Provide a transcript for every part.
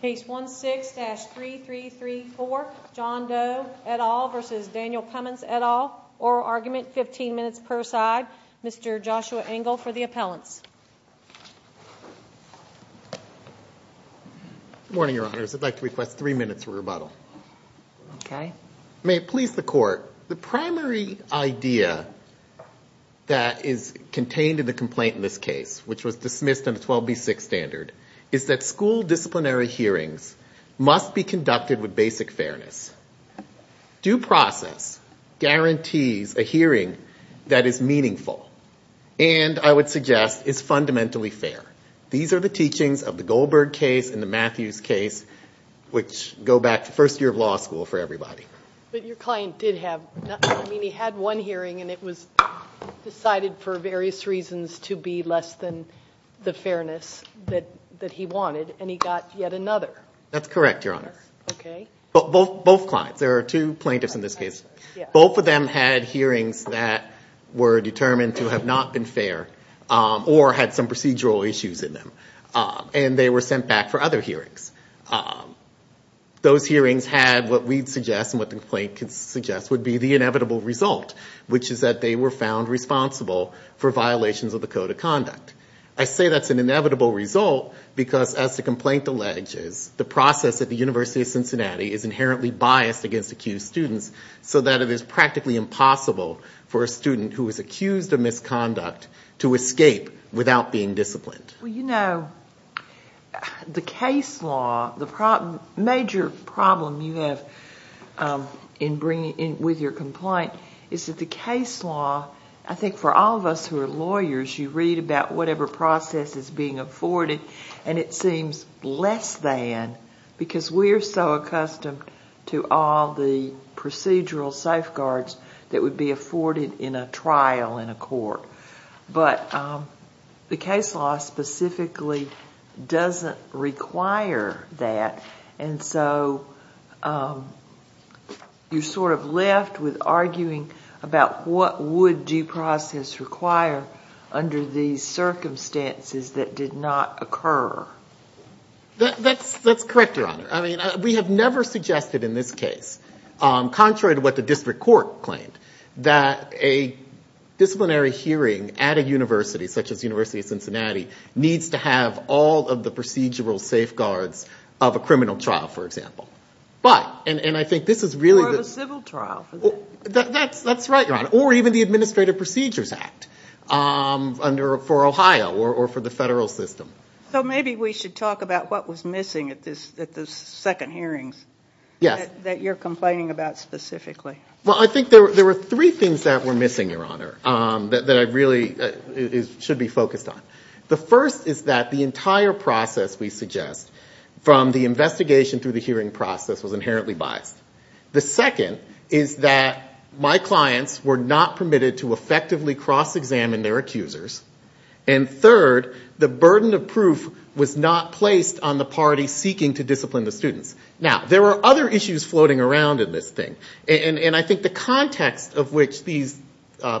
Case 16-3334 John Doe et al. v. Daniel Cummins et al. Oral argument, 15 minutes per side. Mr. Joshua Engel for the appellants. Good morning, Your Honors. I'd like to request three minutes of rebuttal. Okay. If you may please the court, the primary idea that is contained in the complaint in this case, which was dismissed in the 12B6 standard, is that school disciplinary hearings must be conducted with basic fairness. Due process guarantees a hearing that is meaningful and, I would suggest, is fundamentally fair. These are the teachings of the Goldberg case and the Matthews case which go back to first year of law school for everybody. But your client did have, I mean he had one hearing and it was decided for various reasons to be less than the fairness that he wanted and he got yet another. That's correct, Your Honor. Okay. Both clients, there are two plaintiffs in this case, both of them had hearings that were determined to have not been fair or had some procedural issues in them. And they were sent back for other hearings. Those hearings had what we'd suggest and what the complaint could suggest would be the inevitable result, which is that they were found responsible for violations of the code of conduct. I say that's an inevitable result because, as the complaint alleges, the process at the University of Cincinnati is inherently biased against accused students so that it is practically impossible for a student who is accused of misconduct to escape without being disciplined. Well, you know, the case law, the major problem you have with your complaint is that the case law, I think for all of us who are lawyers, you read about whatever process is being afforded and it seems less than because we are so accustomed to all the procedural safeguards that would be afforded in a trial in a court. But the case law specifically doesn't require that. And so you're sort of left with arguing about what would due process require under these circumstances that did not occur. I mean, we have never suggested in this case, contrary to what the district court claimed, that a disciplinary hearing at a university, such as the University of Cincinnati, needs to have all of the procedural safeguards of a criminal trial, for example. Or a civil trial. That's right, Your Honor. Or even the Administrative Procedures Act for Ohio or for the federal system. So maybe we should talk about what was missing at the second hearings that you're complaining about specifically. Well, I think there were three things that were missing, Your Honor, that I really should be focused on. The first is that the entire process, we suggest, from the investigation through the hearing process was inherently biased. The second is that my clients were not permitted to effectively cross-examine their accusers. And third, the burden of proof was not placed on the party seeking to discipline the students. Now, there were other issues floating around in this thing. And I think the context of which these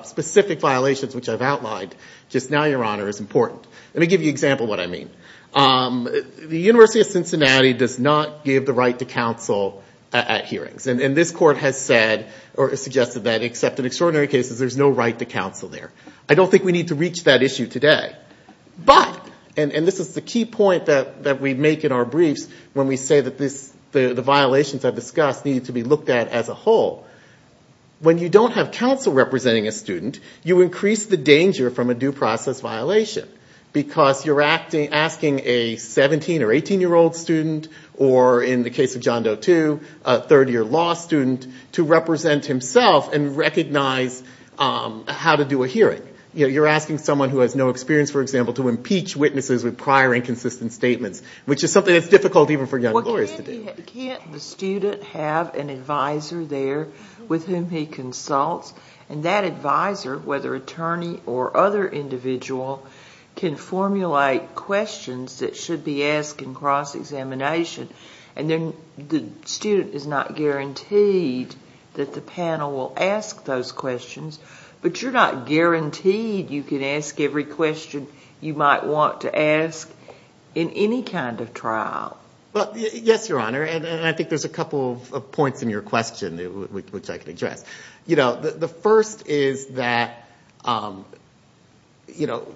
specific violations, which I've outlined, just now, Your Honor, is important. Let me give you an example of what I mean. The University of Cincinnati does not give the right to counsel at hearings. And this court has said or suggested that, except in extraordinary cases, there's no right to counsel there. I don't think we need to reach that issue today. But, and this is the key point that we make in our briefs when we say that the violations I've discussed need to be looked at as a whole. When you don't have counsel representing a student, you increase the danger from a due process violation. Because you're asking a 17 or 18-year-old student, or in the case of John Doe II, a third-year law student, to represent himself and recognize how to do a hearing. You're asking someone who has no experience, for example, to impeach witnesses with prior inconsistent statements, which is something that's difficult even for young lawyers to do. Can't the student have an advisor there with whom he consults? And that advisor, whether attorney or other individual, can formulate questions that should be asked in cross-examination. And then the student is not guaranteed that the panel will ask those questions. But you're not guaranteed you can ask every question you might want to ask in any kind of trial. Yes, Your Honor, and I think there's a couple of points in your question which I can address. You know, the first is that, you know,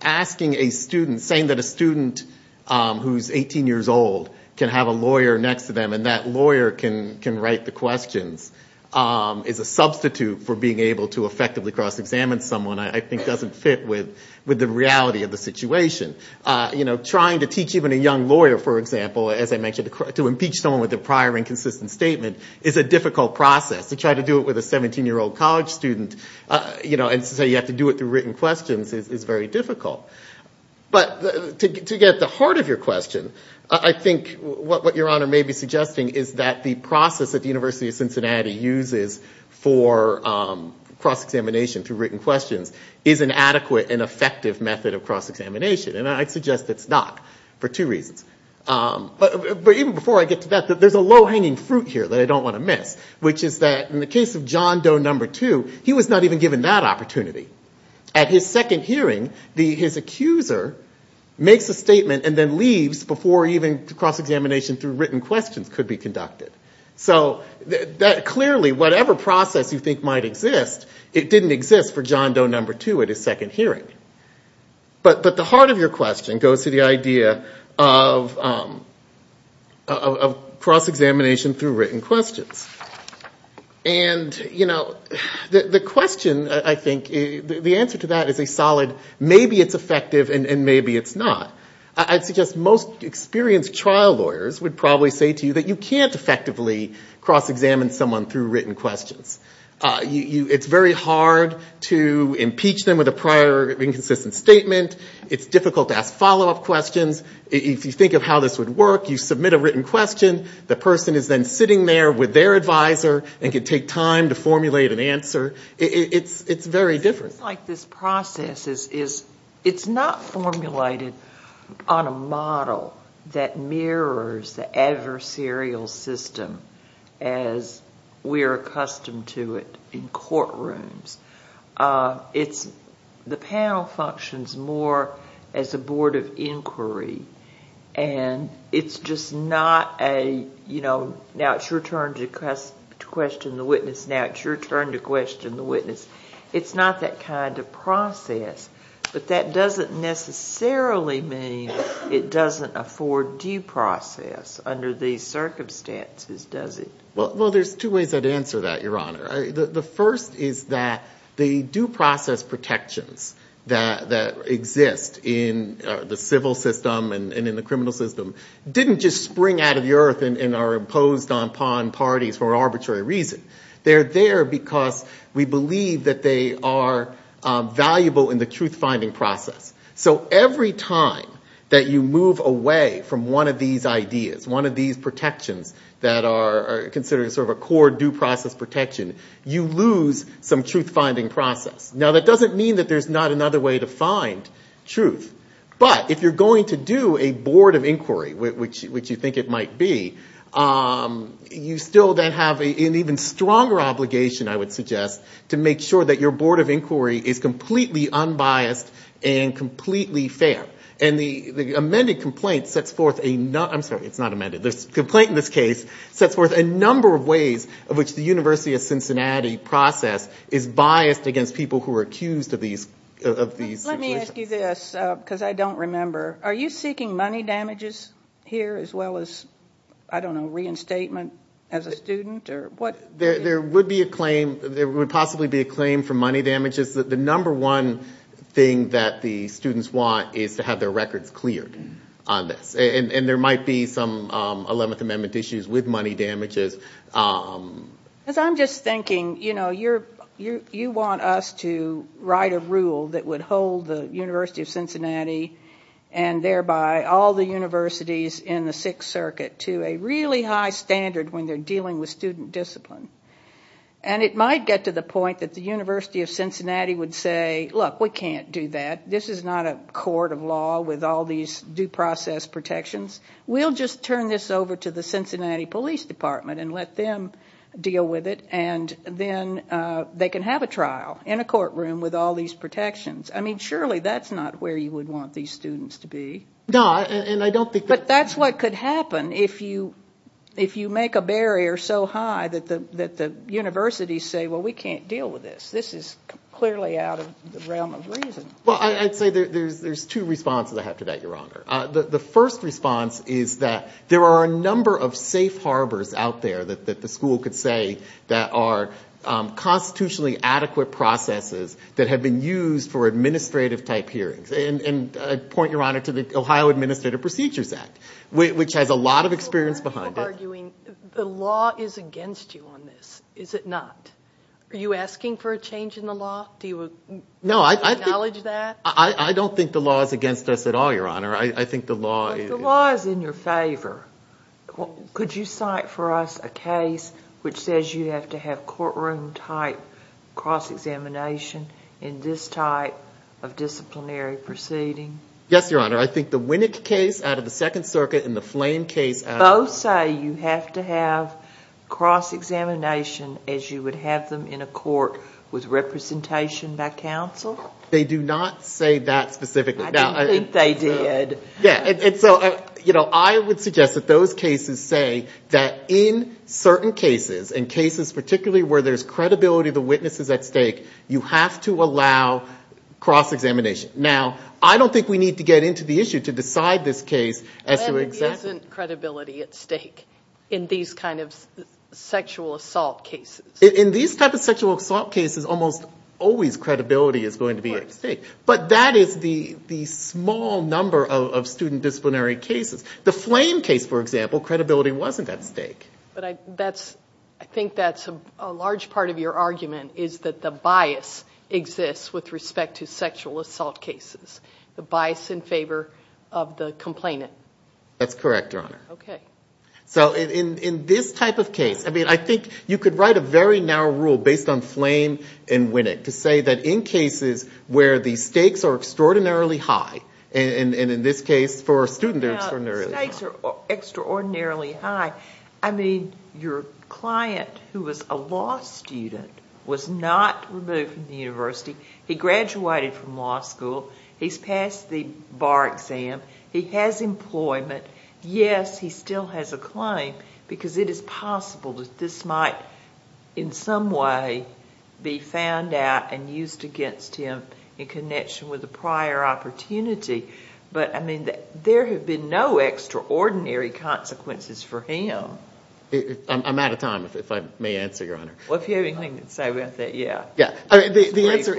asking a student, saying that a student who's 18 years old can have a lawyer next to them and that lawyer can write the questions, is a substitute for being able to effectively cross-examine someone I think doesn't fit with the reality of the situation. You know, trying to teach even a young lawyer, for example, as I mentioned, to impeach someone with a prior inconsistent statement is a difficult process. To try to do it with a 17-year-old college student and say you have to do it through written questions is very difficult. But to get to the heart of your question, I think what Your Honor may be suggesting is that the process that the University of Cincinnati uses for cross-examination through written questions is an adequate and effective method of cross-examination. And I'd suggest it's not for two reasons. But even before I get to that, there's a low-hanging fruit here that I don't want to miss, which is that in the case of John Doe No. 2, he was not even given that opportunity. At his second hearing, his accuser makes a statement and then leaves before even cross-examination through written questions could be conducted. So clearly, whatever process you think might exist, it didn't exist for John Doe No. 2 at his second hearing. But the heart of your question goes to the idea of cross-examination through written questions. And the question, I think, the answer to that is a solid maybe it's effective and maybe it's not. I'd suggest most experienced trial lawyers would probably say to you that you can't effectively cross-examine someone through written questions. It's very hard to impeach them with a prior inconsistent statement. It's difficult to ask follow-up questions. If you think of how this would work, you submit a written question. The person is then sitting there with their advisor and can take time to formulate an answer. It's very different. It's like this process is it's not formulated on a model that mirrors the adversarial system as we are accustomed to it in courtrooms. The panel functions more as a board of inquiry. And it's just not a, you know, now it's your turn to question the witness. Now it's your turn to question the witness. It's not that kind of process. But that doesn't necessarily mean it doesn't afford due process under these circumstances, does it? Well, there's two ways I'd answer that, Your Honor. The first is that the due process protections that exist in the civil system and in the criminal system didn't just spring out of the earth and are imposed upon parties for arbitrary reason. They're there because we believe that they are valuable in the truth-finding process. So every time that you move away from one of these ideas, one of these protections that are considered sort of a core due process protection, you lose some truth-finding process. Now that doesn't mean that there's not another way to find truth. But if you're going to do a board of inquiry, which you think it might be, you still then have an even stronger obligation, I would suggest, to make sure that your board of inquiry is completely unbiased and completely fair. And the amended complaint sets forth a number of ways of which the University of Cincinnati process is biased against people who are accused of these situations. Let me ask you this, because I don't remember. Are you seeking money damages here as well as, I don't know, reinstatement as a student? There would possibly be a claim for money damages. The number one thing that the students want is to have their records cleared on this. And there might be some 11th Amendment issues with money damages. Because I'm just thinking, you know, you want us to write a rule that would hold the University of Cincinnati and thereby all the universities in the Sixth Circuit to a really high standard when they're dealing with student discipline. And it might get to the point that the University of Cincinnati would say, look, we can't do that. This is not a court of law with all these due process protections. We'll just turn this over to the Cincinnati Police Department and let them deal with it. And then they can have a trial in a courtroom with all these protections. I mean, surely that's not where you would want these students to be. And I don't think that's what could happen if you if you make a barrier so high that the that the universities say, well, we can't deal with this. This is clearly out of the realm of reason. Well, I'd say there's there's two responses. I have to bet your honor. The first response is that there are a number of safe harbors out there that the school could say that are constitutionally adequate processes that have been used for administrative type hearings. And I point your honor to the Ohio Administrative Procedures Act, which has a lot of experience behind arguing the law is against you on this. Is it not? Are you asking for a change in the law? Do you know I acknowledge that I don't think the law is against us at all, your honor. I think the law is in your favor. Could you cite for us a case which says you have to have courtroom type cross examination in this type of disciplinary proceeding? Yes, your honor. I think the Winnick case out of the Second Circuit in the flame case. Both say you have to have cross examination as you would have them in a court with representation by counsel. They do not say that specifically. I think they did. Yeah. And so, you know, I would suggest that those cases say that in certain cases and cases particularly where there's credibility of the witnesses at stake, you have to allow cross examination. Now, I don't think we need to get into the issue to decide this case. There isn't credibility at stake in these kind of sexual assault cases. In these type of sexual assault cases, almost always credibility is going to be at stake. But that is the small number of student disciplinary cases. The flame case, for example, credibility wasn't at stake. But I think that's a large part of your argument is that the bias exists with respect to sexual assault cases. The bias in favor of the complainant. That's correct, your honor. Okay. So in this type of case, I mean, I think you could write a very narrow rule based on flame and Winnick to say that in cases where the stakes are extraordinarily high, and in this case for a student they're extraordinarily high. The stakes are extraordinarily high. I mean, your client who was a law student was not removed from the university. He graduated from law school. He's passed the bar exam. He has employment. Yes, he still has a claim because it is possible that this might in some way be found out and used against him in connection with a prior opportunity. But, I mean, there have been no extraordinary consequences for him. I'm out of time, if I may answer, your honor. Well, if you have anything to say about that, yeah. Yeah. The answer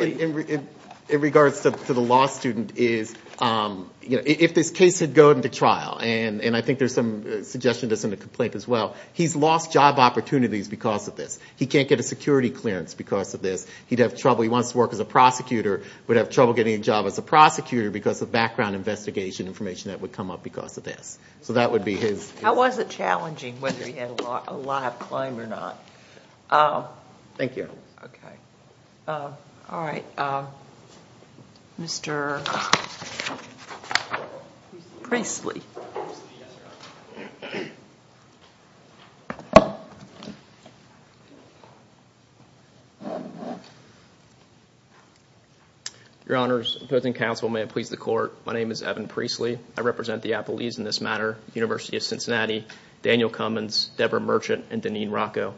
in regards to the law student is, you know, if this case had gone to trial, and I think there's some suggestion that's in the complaint as well, he's lost job opportunities because of this. He can't get a security clearance because of this. He'd have trouble. He wants to work as a prosecutor, would have trouble getting a job as a prosecutor because of background investigation information that would come up because of this. So that would be his. How was it challenging, whether he had a lot of claim or not? Thank you. Okay. All right. Mr. Priestley. Your honors, opposing counsel, may it please the court, my name is Evan Priestley. I represent the Appalachians in this matter, University of Cincinnati, Daniel Cummins, Deborah Merchant, and Deneen Rocco.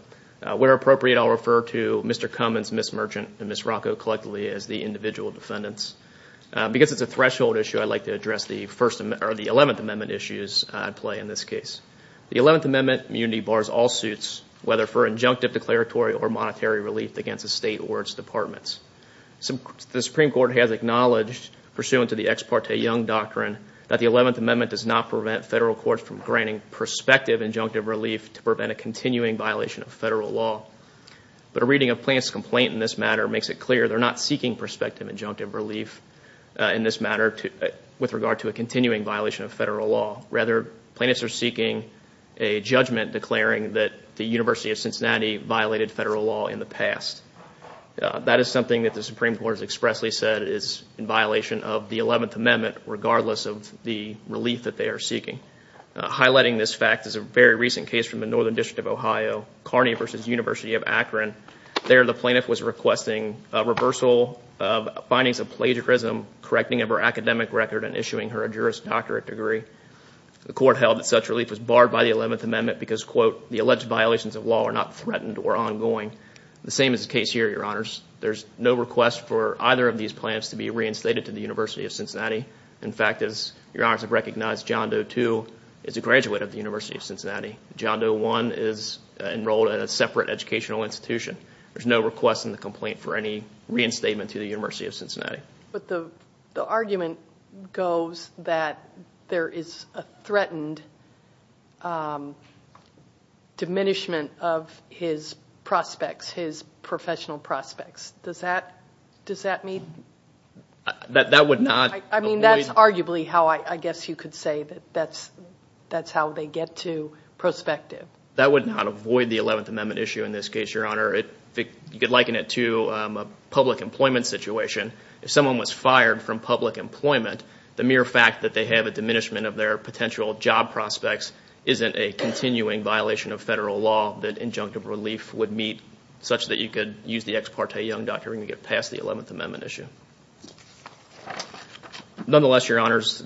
Where appropriate, I'll refer to Mr. Cummins, Ms. Merchant, and Ms. Rocco collectively as the individual defendants. Because it's a threshold issue, I'd like to address the 11th Amendment issues at play in this case. The 11th Amendment immunity bars all suits, whether for injunctive, declaratory, or monetary relief against a state or its departments. The Supreme Court has acknowledged, pursuant to the Ex Parte Young Doctrine, that the 11th Amendment does not prevent federal courts from granting prospective injunctive relief to prevent a continuing violation of federal law. But a reading of plaintiff's complaint in this matter makes it clear they're not seeking prospective injunctive relief in this matter with regard to a continuing violation of federal law. Rather, plaintiffs are seeking a judgment declaring that the University of Cincinnati violated federal law in the past. That is something that the Supreme Court has expressly said is in violation of the 11th Amendment, regardless of the relief that they are seeking. Highlighting this fact is a very recent case from the Northern District of Ohio, Kearney v. University of Akron. There, the plaintiff was requesting reversal of findings of plagiarism, correcting of her academic record, and issuing her a Juris Doctorate degree. The court held that such relief was barred by the 11th Amendment because, quote, the alleged violations of law are not threatened or ongoing. The same is the case here, Your Honors. There's no request for either of these plaintiffs to be reinstated to the University of Cincinnati. In fact, as Your Honors have recognized, John Doe II is a graduate of the University of Cincinnati. John Doe I is enrolled at a separate educational institution. There's no request in the complaint for any reinstatement to the University of Cincinnati. But the argument goes that there is a threatened diminishment of his prospects, his professional prospects. Does that mean? That would not. I mean, that's arguably how I guess you could say that that's how they get to prospective. That would not avoid the 11th Amendment issue in this case, Your Honor. You could liken it to a public employment situation. If someone was fired from public employment, the mere fact that they have a diminishment of their potential job prospects isn't a continuing violation of federal law that injunctive relief would meet, such that you could use the ex parte young doctoring to get past the 11th Amendment issue. Nonetheless, Your Honors,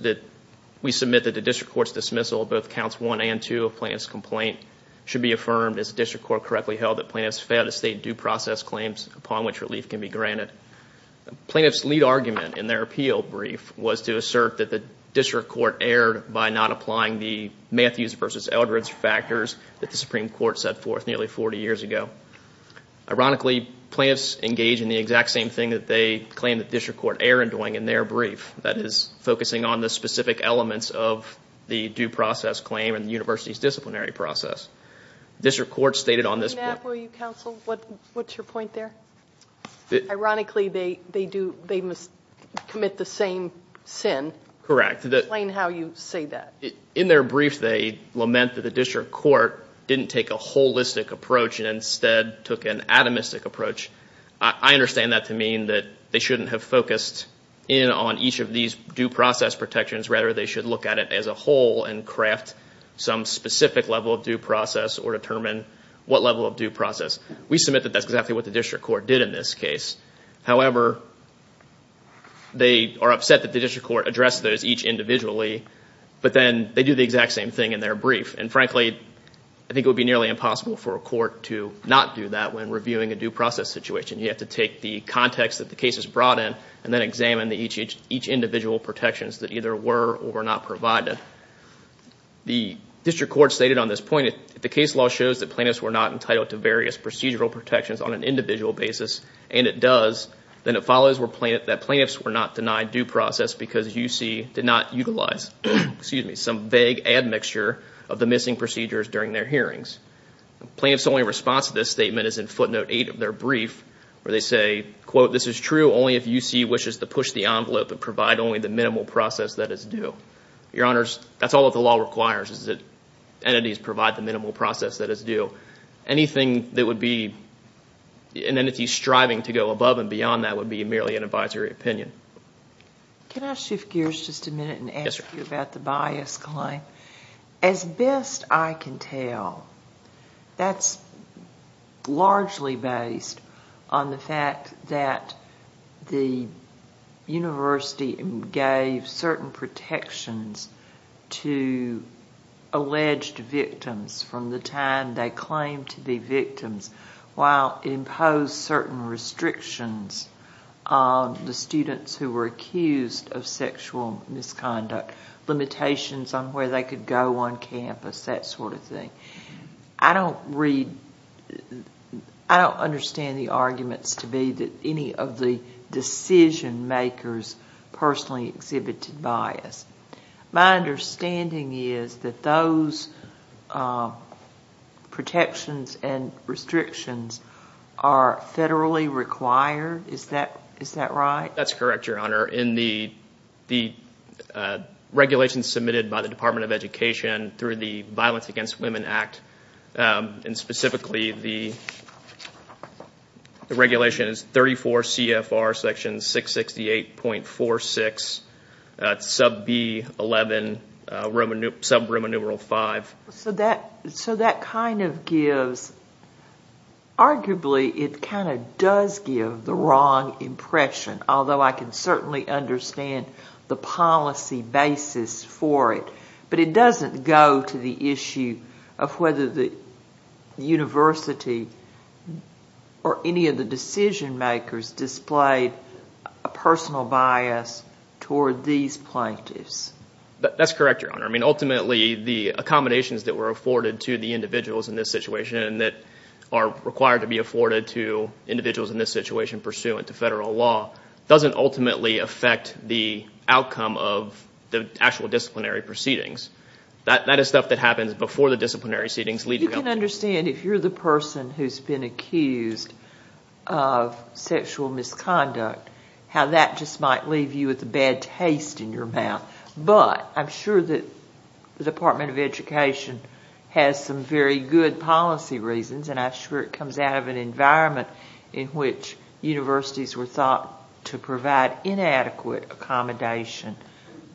we submit that the district court's dismissal of both counts 1 and 2 of plaintiff's complaint should be affirmed as the district court correctly held that plaintiffs failed to state due process claims upon which relief can be granted. Plaintiff's lead argument in their appeal brief was to assert that the district court erred by not applying the Matthews v. Eldredge factors that the Supreme Court set forth nearly 40 years ago. Ironically, plaintiffs engage in the exact same thing that they claim the district court erred doing in their brief. That is, focusing on the specific elements of the due process claim and the university's disciplinary process. District court stated on this... May I interrupt you, counsel? What's your point there? Ironically, they must commit the same sin. Correct. Explain how you say that. In their brief, they lament that the district court didn't take a holistic approach and instead took an atomistic approach. I understand that to mean that they shouldn't have focused in on each of these due process protections. Rather, they should look at it as a whole and craft some specific level of due process or determine what level of due process. We submit that that's exactly what the district court did in this case. However, they are upset that the district court addressed those each individually, but then they do the exact same thing in their brief. Frankly, I think it would be nearly impossible for a court to not do that when reviewing a due process situation. You have to take the context that the case is brought in and then examine each individual protections that either were or were not provided. The district court stated on this point, if the case law shows that plaintiffs were not entitled to various procedural protections on an individual basis, and it does, then it follows that plaintiffs were not denied due process because UC did not utilize some vague admixture of the missing procedures during their hearings. Plaintiffs' only response to this statement is in footnote 8 of their brief where they say, quote, this is true only if UC wishes to push the envelope and provide only the minimal process that is due. Your Honors, that's all that the law requires is that entities provide the minimal process that is due. Anything that would be an entity striving to go above and beyond that would be merely an advisory opinion. Can I shift gears just a minute and ask you about the bias claim? As best I can tell, that's largely based on the fact that the university gave certain protections to alleged victims from the time they claimed to be victims while imposed certain restrictions on the students who were accused of sexual misconduct, limitations on where they could go on campus, that sort of thing. I don't read, I don't understand the arguments to be that any of the decision makers personally exhibited bias. My understanding is that those protections and restrictions are federally required, is that right? That's correct, Your Honor. In the regulations submitted by the Department of Education through the Violence Against Women Act, and specifically the regulation is 34 CFR section 668.46, sub B11, sub remuneral 5. So that kind of gives, arguably it kind of does give the wrong impression, although I can certainly understand the policy basis for it. But it doesn't go to the issue of whether the university or any of the decision makers displayed a personal bias toward these plaintiffs. That's correct, Your Honor. I mean ultimately the accommodations that were afforded to the individuals in this situation and that are required to be afforded to individuals in this situation pursuant to federal law doesn't ultimately affect the outcome of the actual disciplinary proceedings. That is stuff that happens before the disciplinary proceedings. You can understand if you're the person who's been accused of sexual misconduct, how that just might leave you with a bad taste in your mouth. But I'm sure that the Department of Education has some very good policy reasons and I'm sure it comes out of an environment in which universities were thought to provide inadequate accommodation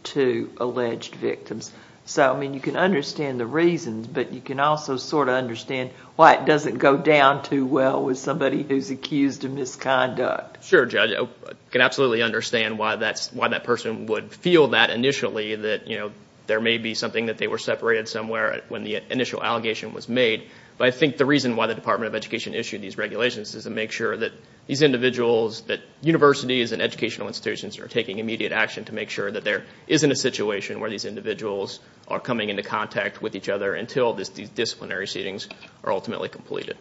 to alleged victims. So I mean you can understand the reasons, but you can also sort of understand why it doesn't go down too well with somebody who's accused of misconduct. Sure, Judge. I can absolutely understand why that person would feel that initially, that there may be something that they were separated somewhere when the initial allegation was made. But I think the reason why the Department of Education issued these regulations is to make sure that these individuals, that universities and educational institutions are taking immediate action to make sure that there isn't a situation where these individuals are coming into contact with each other until these disciplinary proceedings are ultimately completed.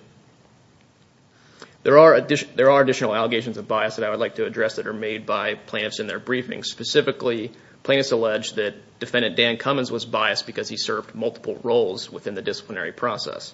There are additional allegations of bias that I would like to address that are made by plaintiffs in their briefings. Specifically, plaintiffs allege that Defendant Dan Cummins was biased because he served multiple roles within the disciplinary process.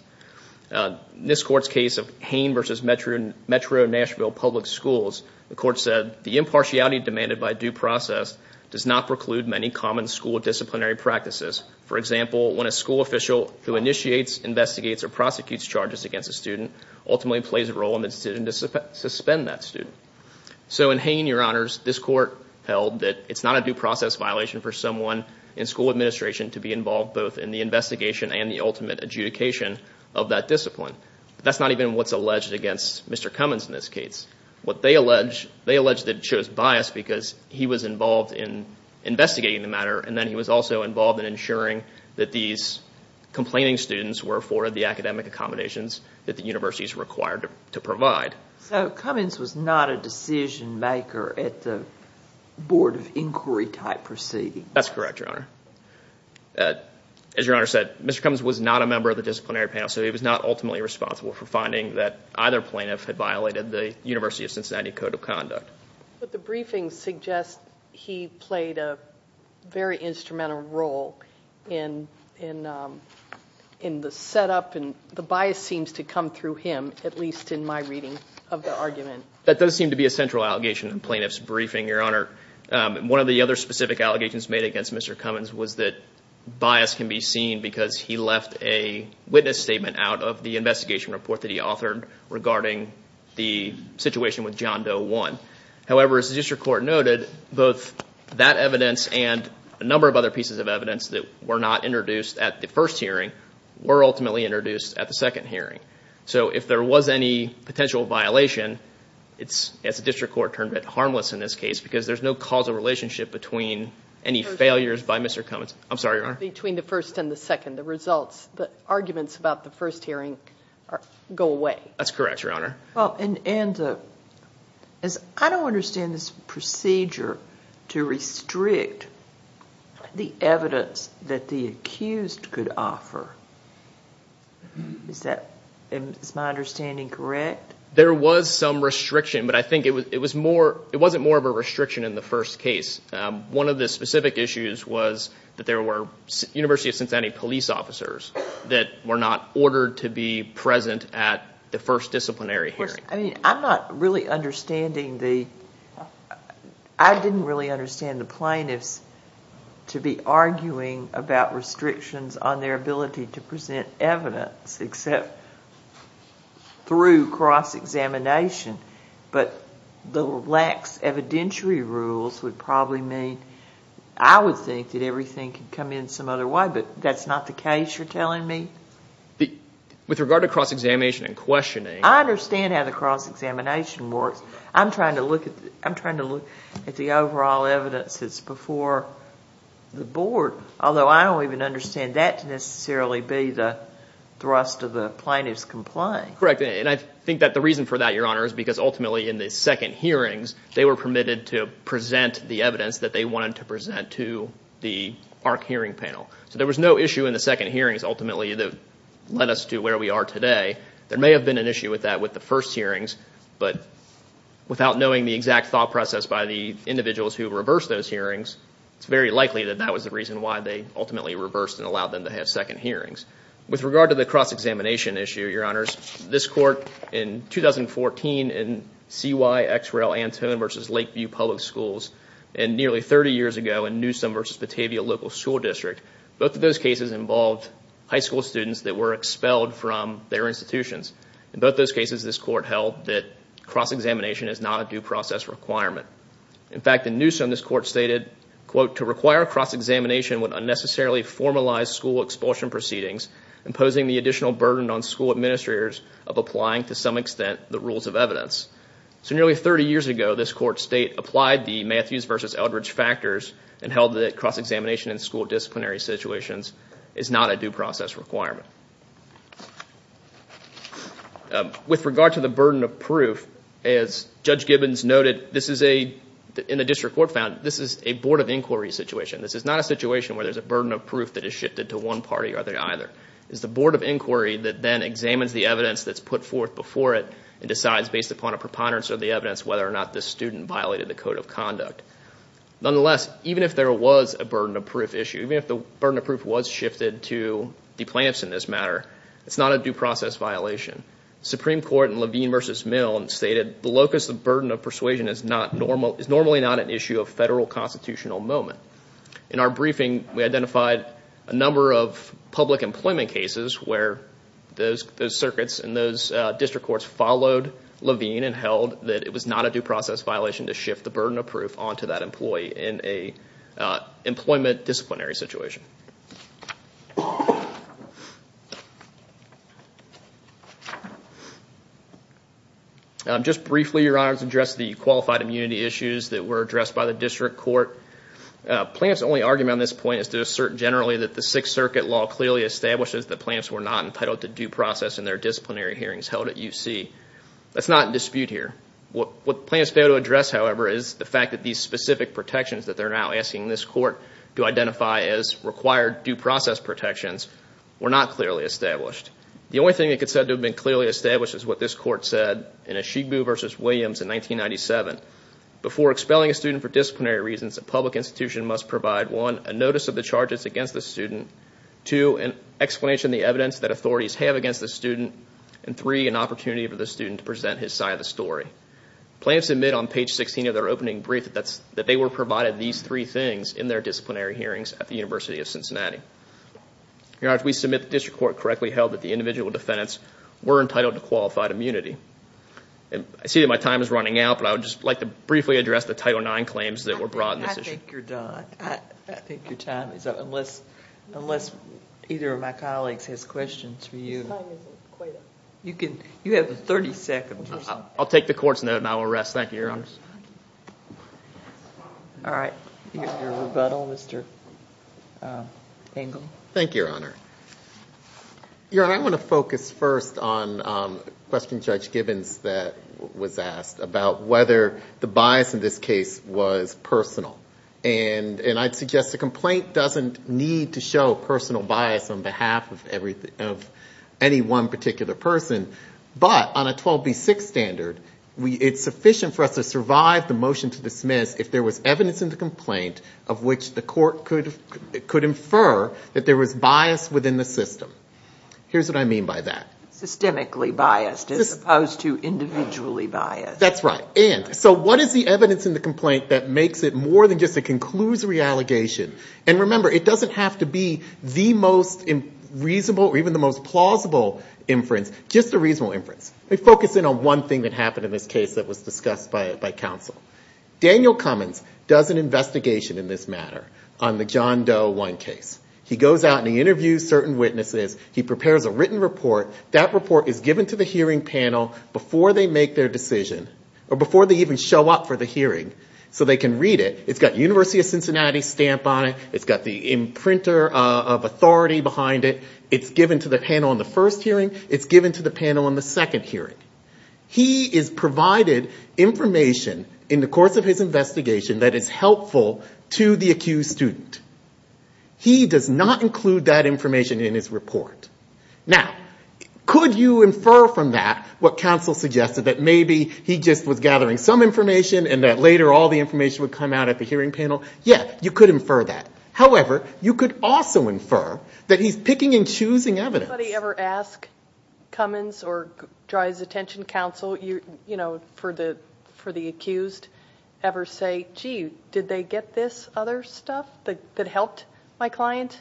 In this court's case of Hain v. Metro Nashville Public Schools, the court said, the impartiality demanded by due process does not preclude many common school disciplinary practices. For example, when a school official who initiates, investigates, or prosecutes charges against a student ultimately plays a role in the decision to suspend that student. So in Hain, Your Honors, this court held that it's not a due process violation for someone in school administration to be involved both in the investigation and the ultimate adjudication of that discipline. That's not even what's alleged against Mr. Cummins in this case. What they allege, they allege that it shows bias because he was involved in investigating the matter and then he was also involved in ensuring that these complaining students were afforded the academic accommodations that the universities required to provide. So Cummins was not a decision maker at the Board of Inquiry type proceedings? That's correct, Your Honor. As Your Honor said, Mr. Cummins was not a member of the disciplinary panel, so he was not ultimately responsible for finding that either plaintiff had violated the University of Cincinnati Code of Conduct. But the briefing suggests he played a very instrumental role in the setup and the bias seems to come through him, at least in my reading of the argument. That does seem to be a central allegation in plaintiff's briefing, Your Honor. One of the other specific allegations made against Mr. Cummins was that bias can be seen because he left a witness statement out of the investigation report that he authored regarding the situation with John Doe 1. However, as the district court noted, both that evidence and a number of other pieces of evidence that were not introduced at the first hearing were ultimately introduced at the second hearing. So if there was any potential violation, it's, as the district court termed it, harmless in this case because there's no causal relationship between any failures by Mr. Cummins. I'm sorry, Your Honor. Between the first and the second, the results, the arguments about the first hearing go away. That's correct, Your Honor. I don't understand this procedure to restrict the evidence that the accused could offer. Is my understanding correct? There was some restriction, but I think it wasn't more of a restriction in the first case. One of the specific issues was that there were University of Cincinnati police officers that were not ordered to be present at the first disciplinary hearing. I'm not really understanding the—I didn't really understand the plaintiffs to be arguing about restrictions on their ability to present evidence except through cross-examination, but the lax evidentiary rules would probably mean I would think that everything could come in some other way, but that's not the case you're telling me? With regard to cross-examination and questioning— I understand how the cross-examination works. I'm trying to look at the overall evidence that's before the board, although I don't even understand that to necessarily be the thrust of the plaintiff's complaint. And I think that the reason for that, Your Honor, is because ultimately in the second hearings, they were permitted to present the evidence that they wanted to present to the ARC hearing panel. So there was no issue in the second hearings ultimately that led us to where we are today. There may have been an issue with that with the first hearings, but without knowing the exact thought process by the individuals who reversed those hearings, it's very likely that that was the reason why they ultimately reversed and allowed them to have second hearings. With regard to the cross-examination issue, Your Honors, this court in 2014 in C.Y. X. Rel. Antone v. Lakeview Public Schools, and nearly 30 years ago in Newsom v. Batavia Local School District, both of those cases involved high school students that were expelled from their institutions. In both those cases, this court held that cross-examination is not a due process requirement. In fact, in Newsom, this court stated, quote, So nearly 30 years ago, this court state applied the Matthews v. Eldridge factors and held that cross-examination in school disciplinary situations is not a due process requirement. With regard to the burden of proof, as Judge Gibbons noted, in the district court found, this is a Board of Inquiry situation. This is not a situation where there's a burden of proof that is shifted to one party or the other. It's the Board of Inquiry that then examines the evidence that's put forth before it and decides, based upon a preponderance of the evidence, whether or not this student violated the Code of Conduct. Nonetheless, even if there was a burden of proof issue, even if the burden of proof was shifted to the plaintiffs in this matter, it's not a due process violation. Supreme Court in Levine v. Milne stated, that the locus of burden of persuasion is normally not an issue of federal constitutional moment. In our briefing, we identified a number of public employment cases where those circuits and those district courts followed Levine and held that it was not a due process violation to shift the burden of proof onto that employee in an employment disciplinary situation. Briefly, Your Honor, let's address the qualified immunity issues that were addressed by the district court. Plaintiff's only argument on this point is to assert generally that the Sixth Circuit law clearly establishes that plaintiffs were not entitled to due process in their disciplinary hearings held at UC. That's not in dispute here. What plaintiffs failed to address, however, is the fact that these specific protections that they're now asking this court to identify as required due process protections were not clearly established. The only thing that could have been said to have been clearly established is what this court said in Ashigbu v. Williams in 1997. Before expelling a student for disciplinary reasons, a public institution must provide one, a notice of the charges against the student, two, an explanation of the evidence that authorities have against the student, and three, an opportunity for the student to present his side of the story. Plaintiffs admit on page 16 of their opening brief that they were provided these three things in their disciplinary hearings at the University of Cincinnati. Your Honor, if we submit the district court correctly held that the individual defendants were entitled to qualified immunity. I see that my time is running out, but I would just like to briefly address the Title IX claims that were brought in this issue. I think you're done. I think your time is up, unless either of my colleagues has questions for you. Your time isn't quite up. You have 30 seconds or so. I'll take the court's note, and I will rest. Thank you, Your Honor. All right. Your rebuttal, Mr. Engel. Thank you, Your Honor. Your Honor, I want to focus first on a question Judge Gibbons was asked about whether the bias in this case was personal. And I'd suggest a complaint doesn't need to show personal bias on behalf of any one particular person, but on a 12B6 standard, it's sufficient for us to survive the motion to dismiss if there was evidence in the complaint of which the court could infer that there was bias within the system. Here's what I mean by that. Systemically biased as opposed to individually biased. That's right. And so what is the evidence in the complaint that makes it more than just a conclusory allegation? And remember, it doesn't have to be the most reasonable or even the most plausible inference. Just a reasonable inference. Let me focus in on one thing that happened in this case that was discussed by counsel. Daniel Cummins does an investigation in this matter on the John Doe 1 case. He goes out and he interviews certain witnesses. He prepares a written report. That report is given to the hearing panel before they make their decision or before they even show up for the hearing. So they can read it. It's got University of Cincinnati stamp on it. It's got the imprinter of authority behind it. It's given to the panel in the first hearing. It's given to the panel in the second hearing. He is provided information in the course of his investigation that is helpful to the accused student. He does not include that information in his report. Now, could you infer from that what counsel suggested, that maybe he just was gathering some information and that later all the information would come out at the hearing panel? Yeah, you could infer that. However, you could also infer that he's picking and choosing evidence. Did anybody ever ask Cummins or Dry's Attention Counsel, you know, for the accused, ever say, gee, did they get this other stuff that helped my client?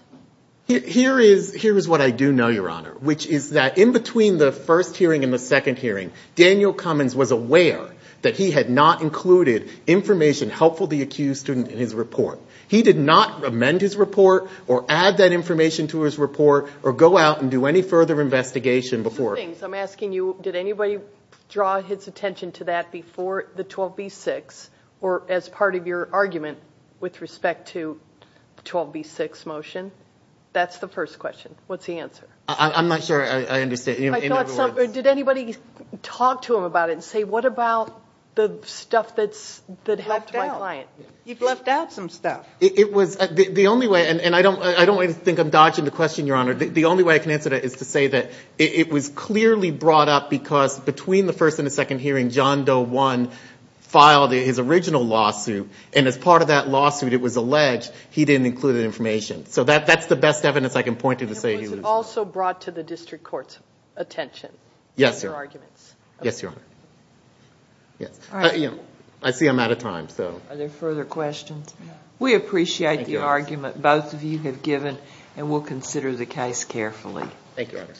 Here is what I do know, Your Honor, which is that in between the first hearing and the second hearing, Daniel Cummins was aware that he had not included information helpful to the accused student in his report. He did not amend his report or add that information to his report or go out and do any further investigation before. Two things, I'm asking you, did anybody draw his attention to that before the 12B6 or as part of your argument with respect to the 12B6 motion? That's the first question. What's the answer? I'm not sure I understand. Did anybody talk to him about it and say, what about the stuff that helped my client? You've left out some stuff. It was the only way, and I don't think I'm dodging the question, Your Honor. The only way I can answer that is to say that it was clearly brought up because between the first and the second hearing, John Doe 1 filed his original lawsuit, and as part of that lawsuit, it was alleged he didn't include the information. So that's the best evidence I can point to to say he was. Was it also brought to the district court's attention? Yes, Your Honor. Yes, Your Honor. Yes. All right. I see I'm out of time. Are there further questions? No. We appreciate the argument both of you have given, and we'll consider the case carefully. Thank you, Your Honor.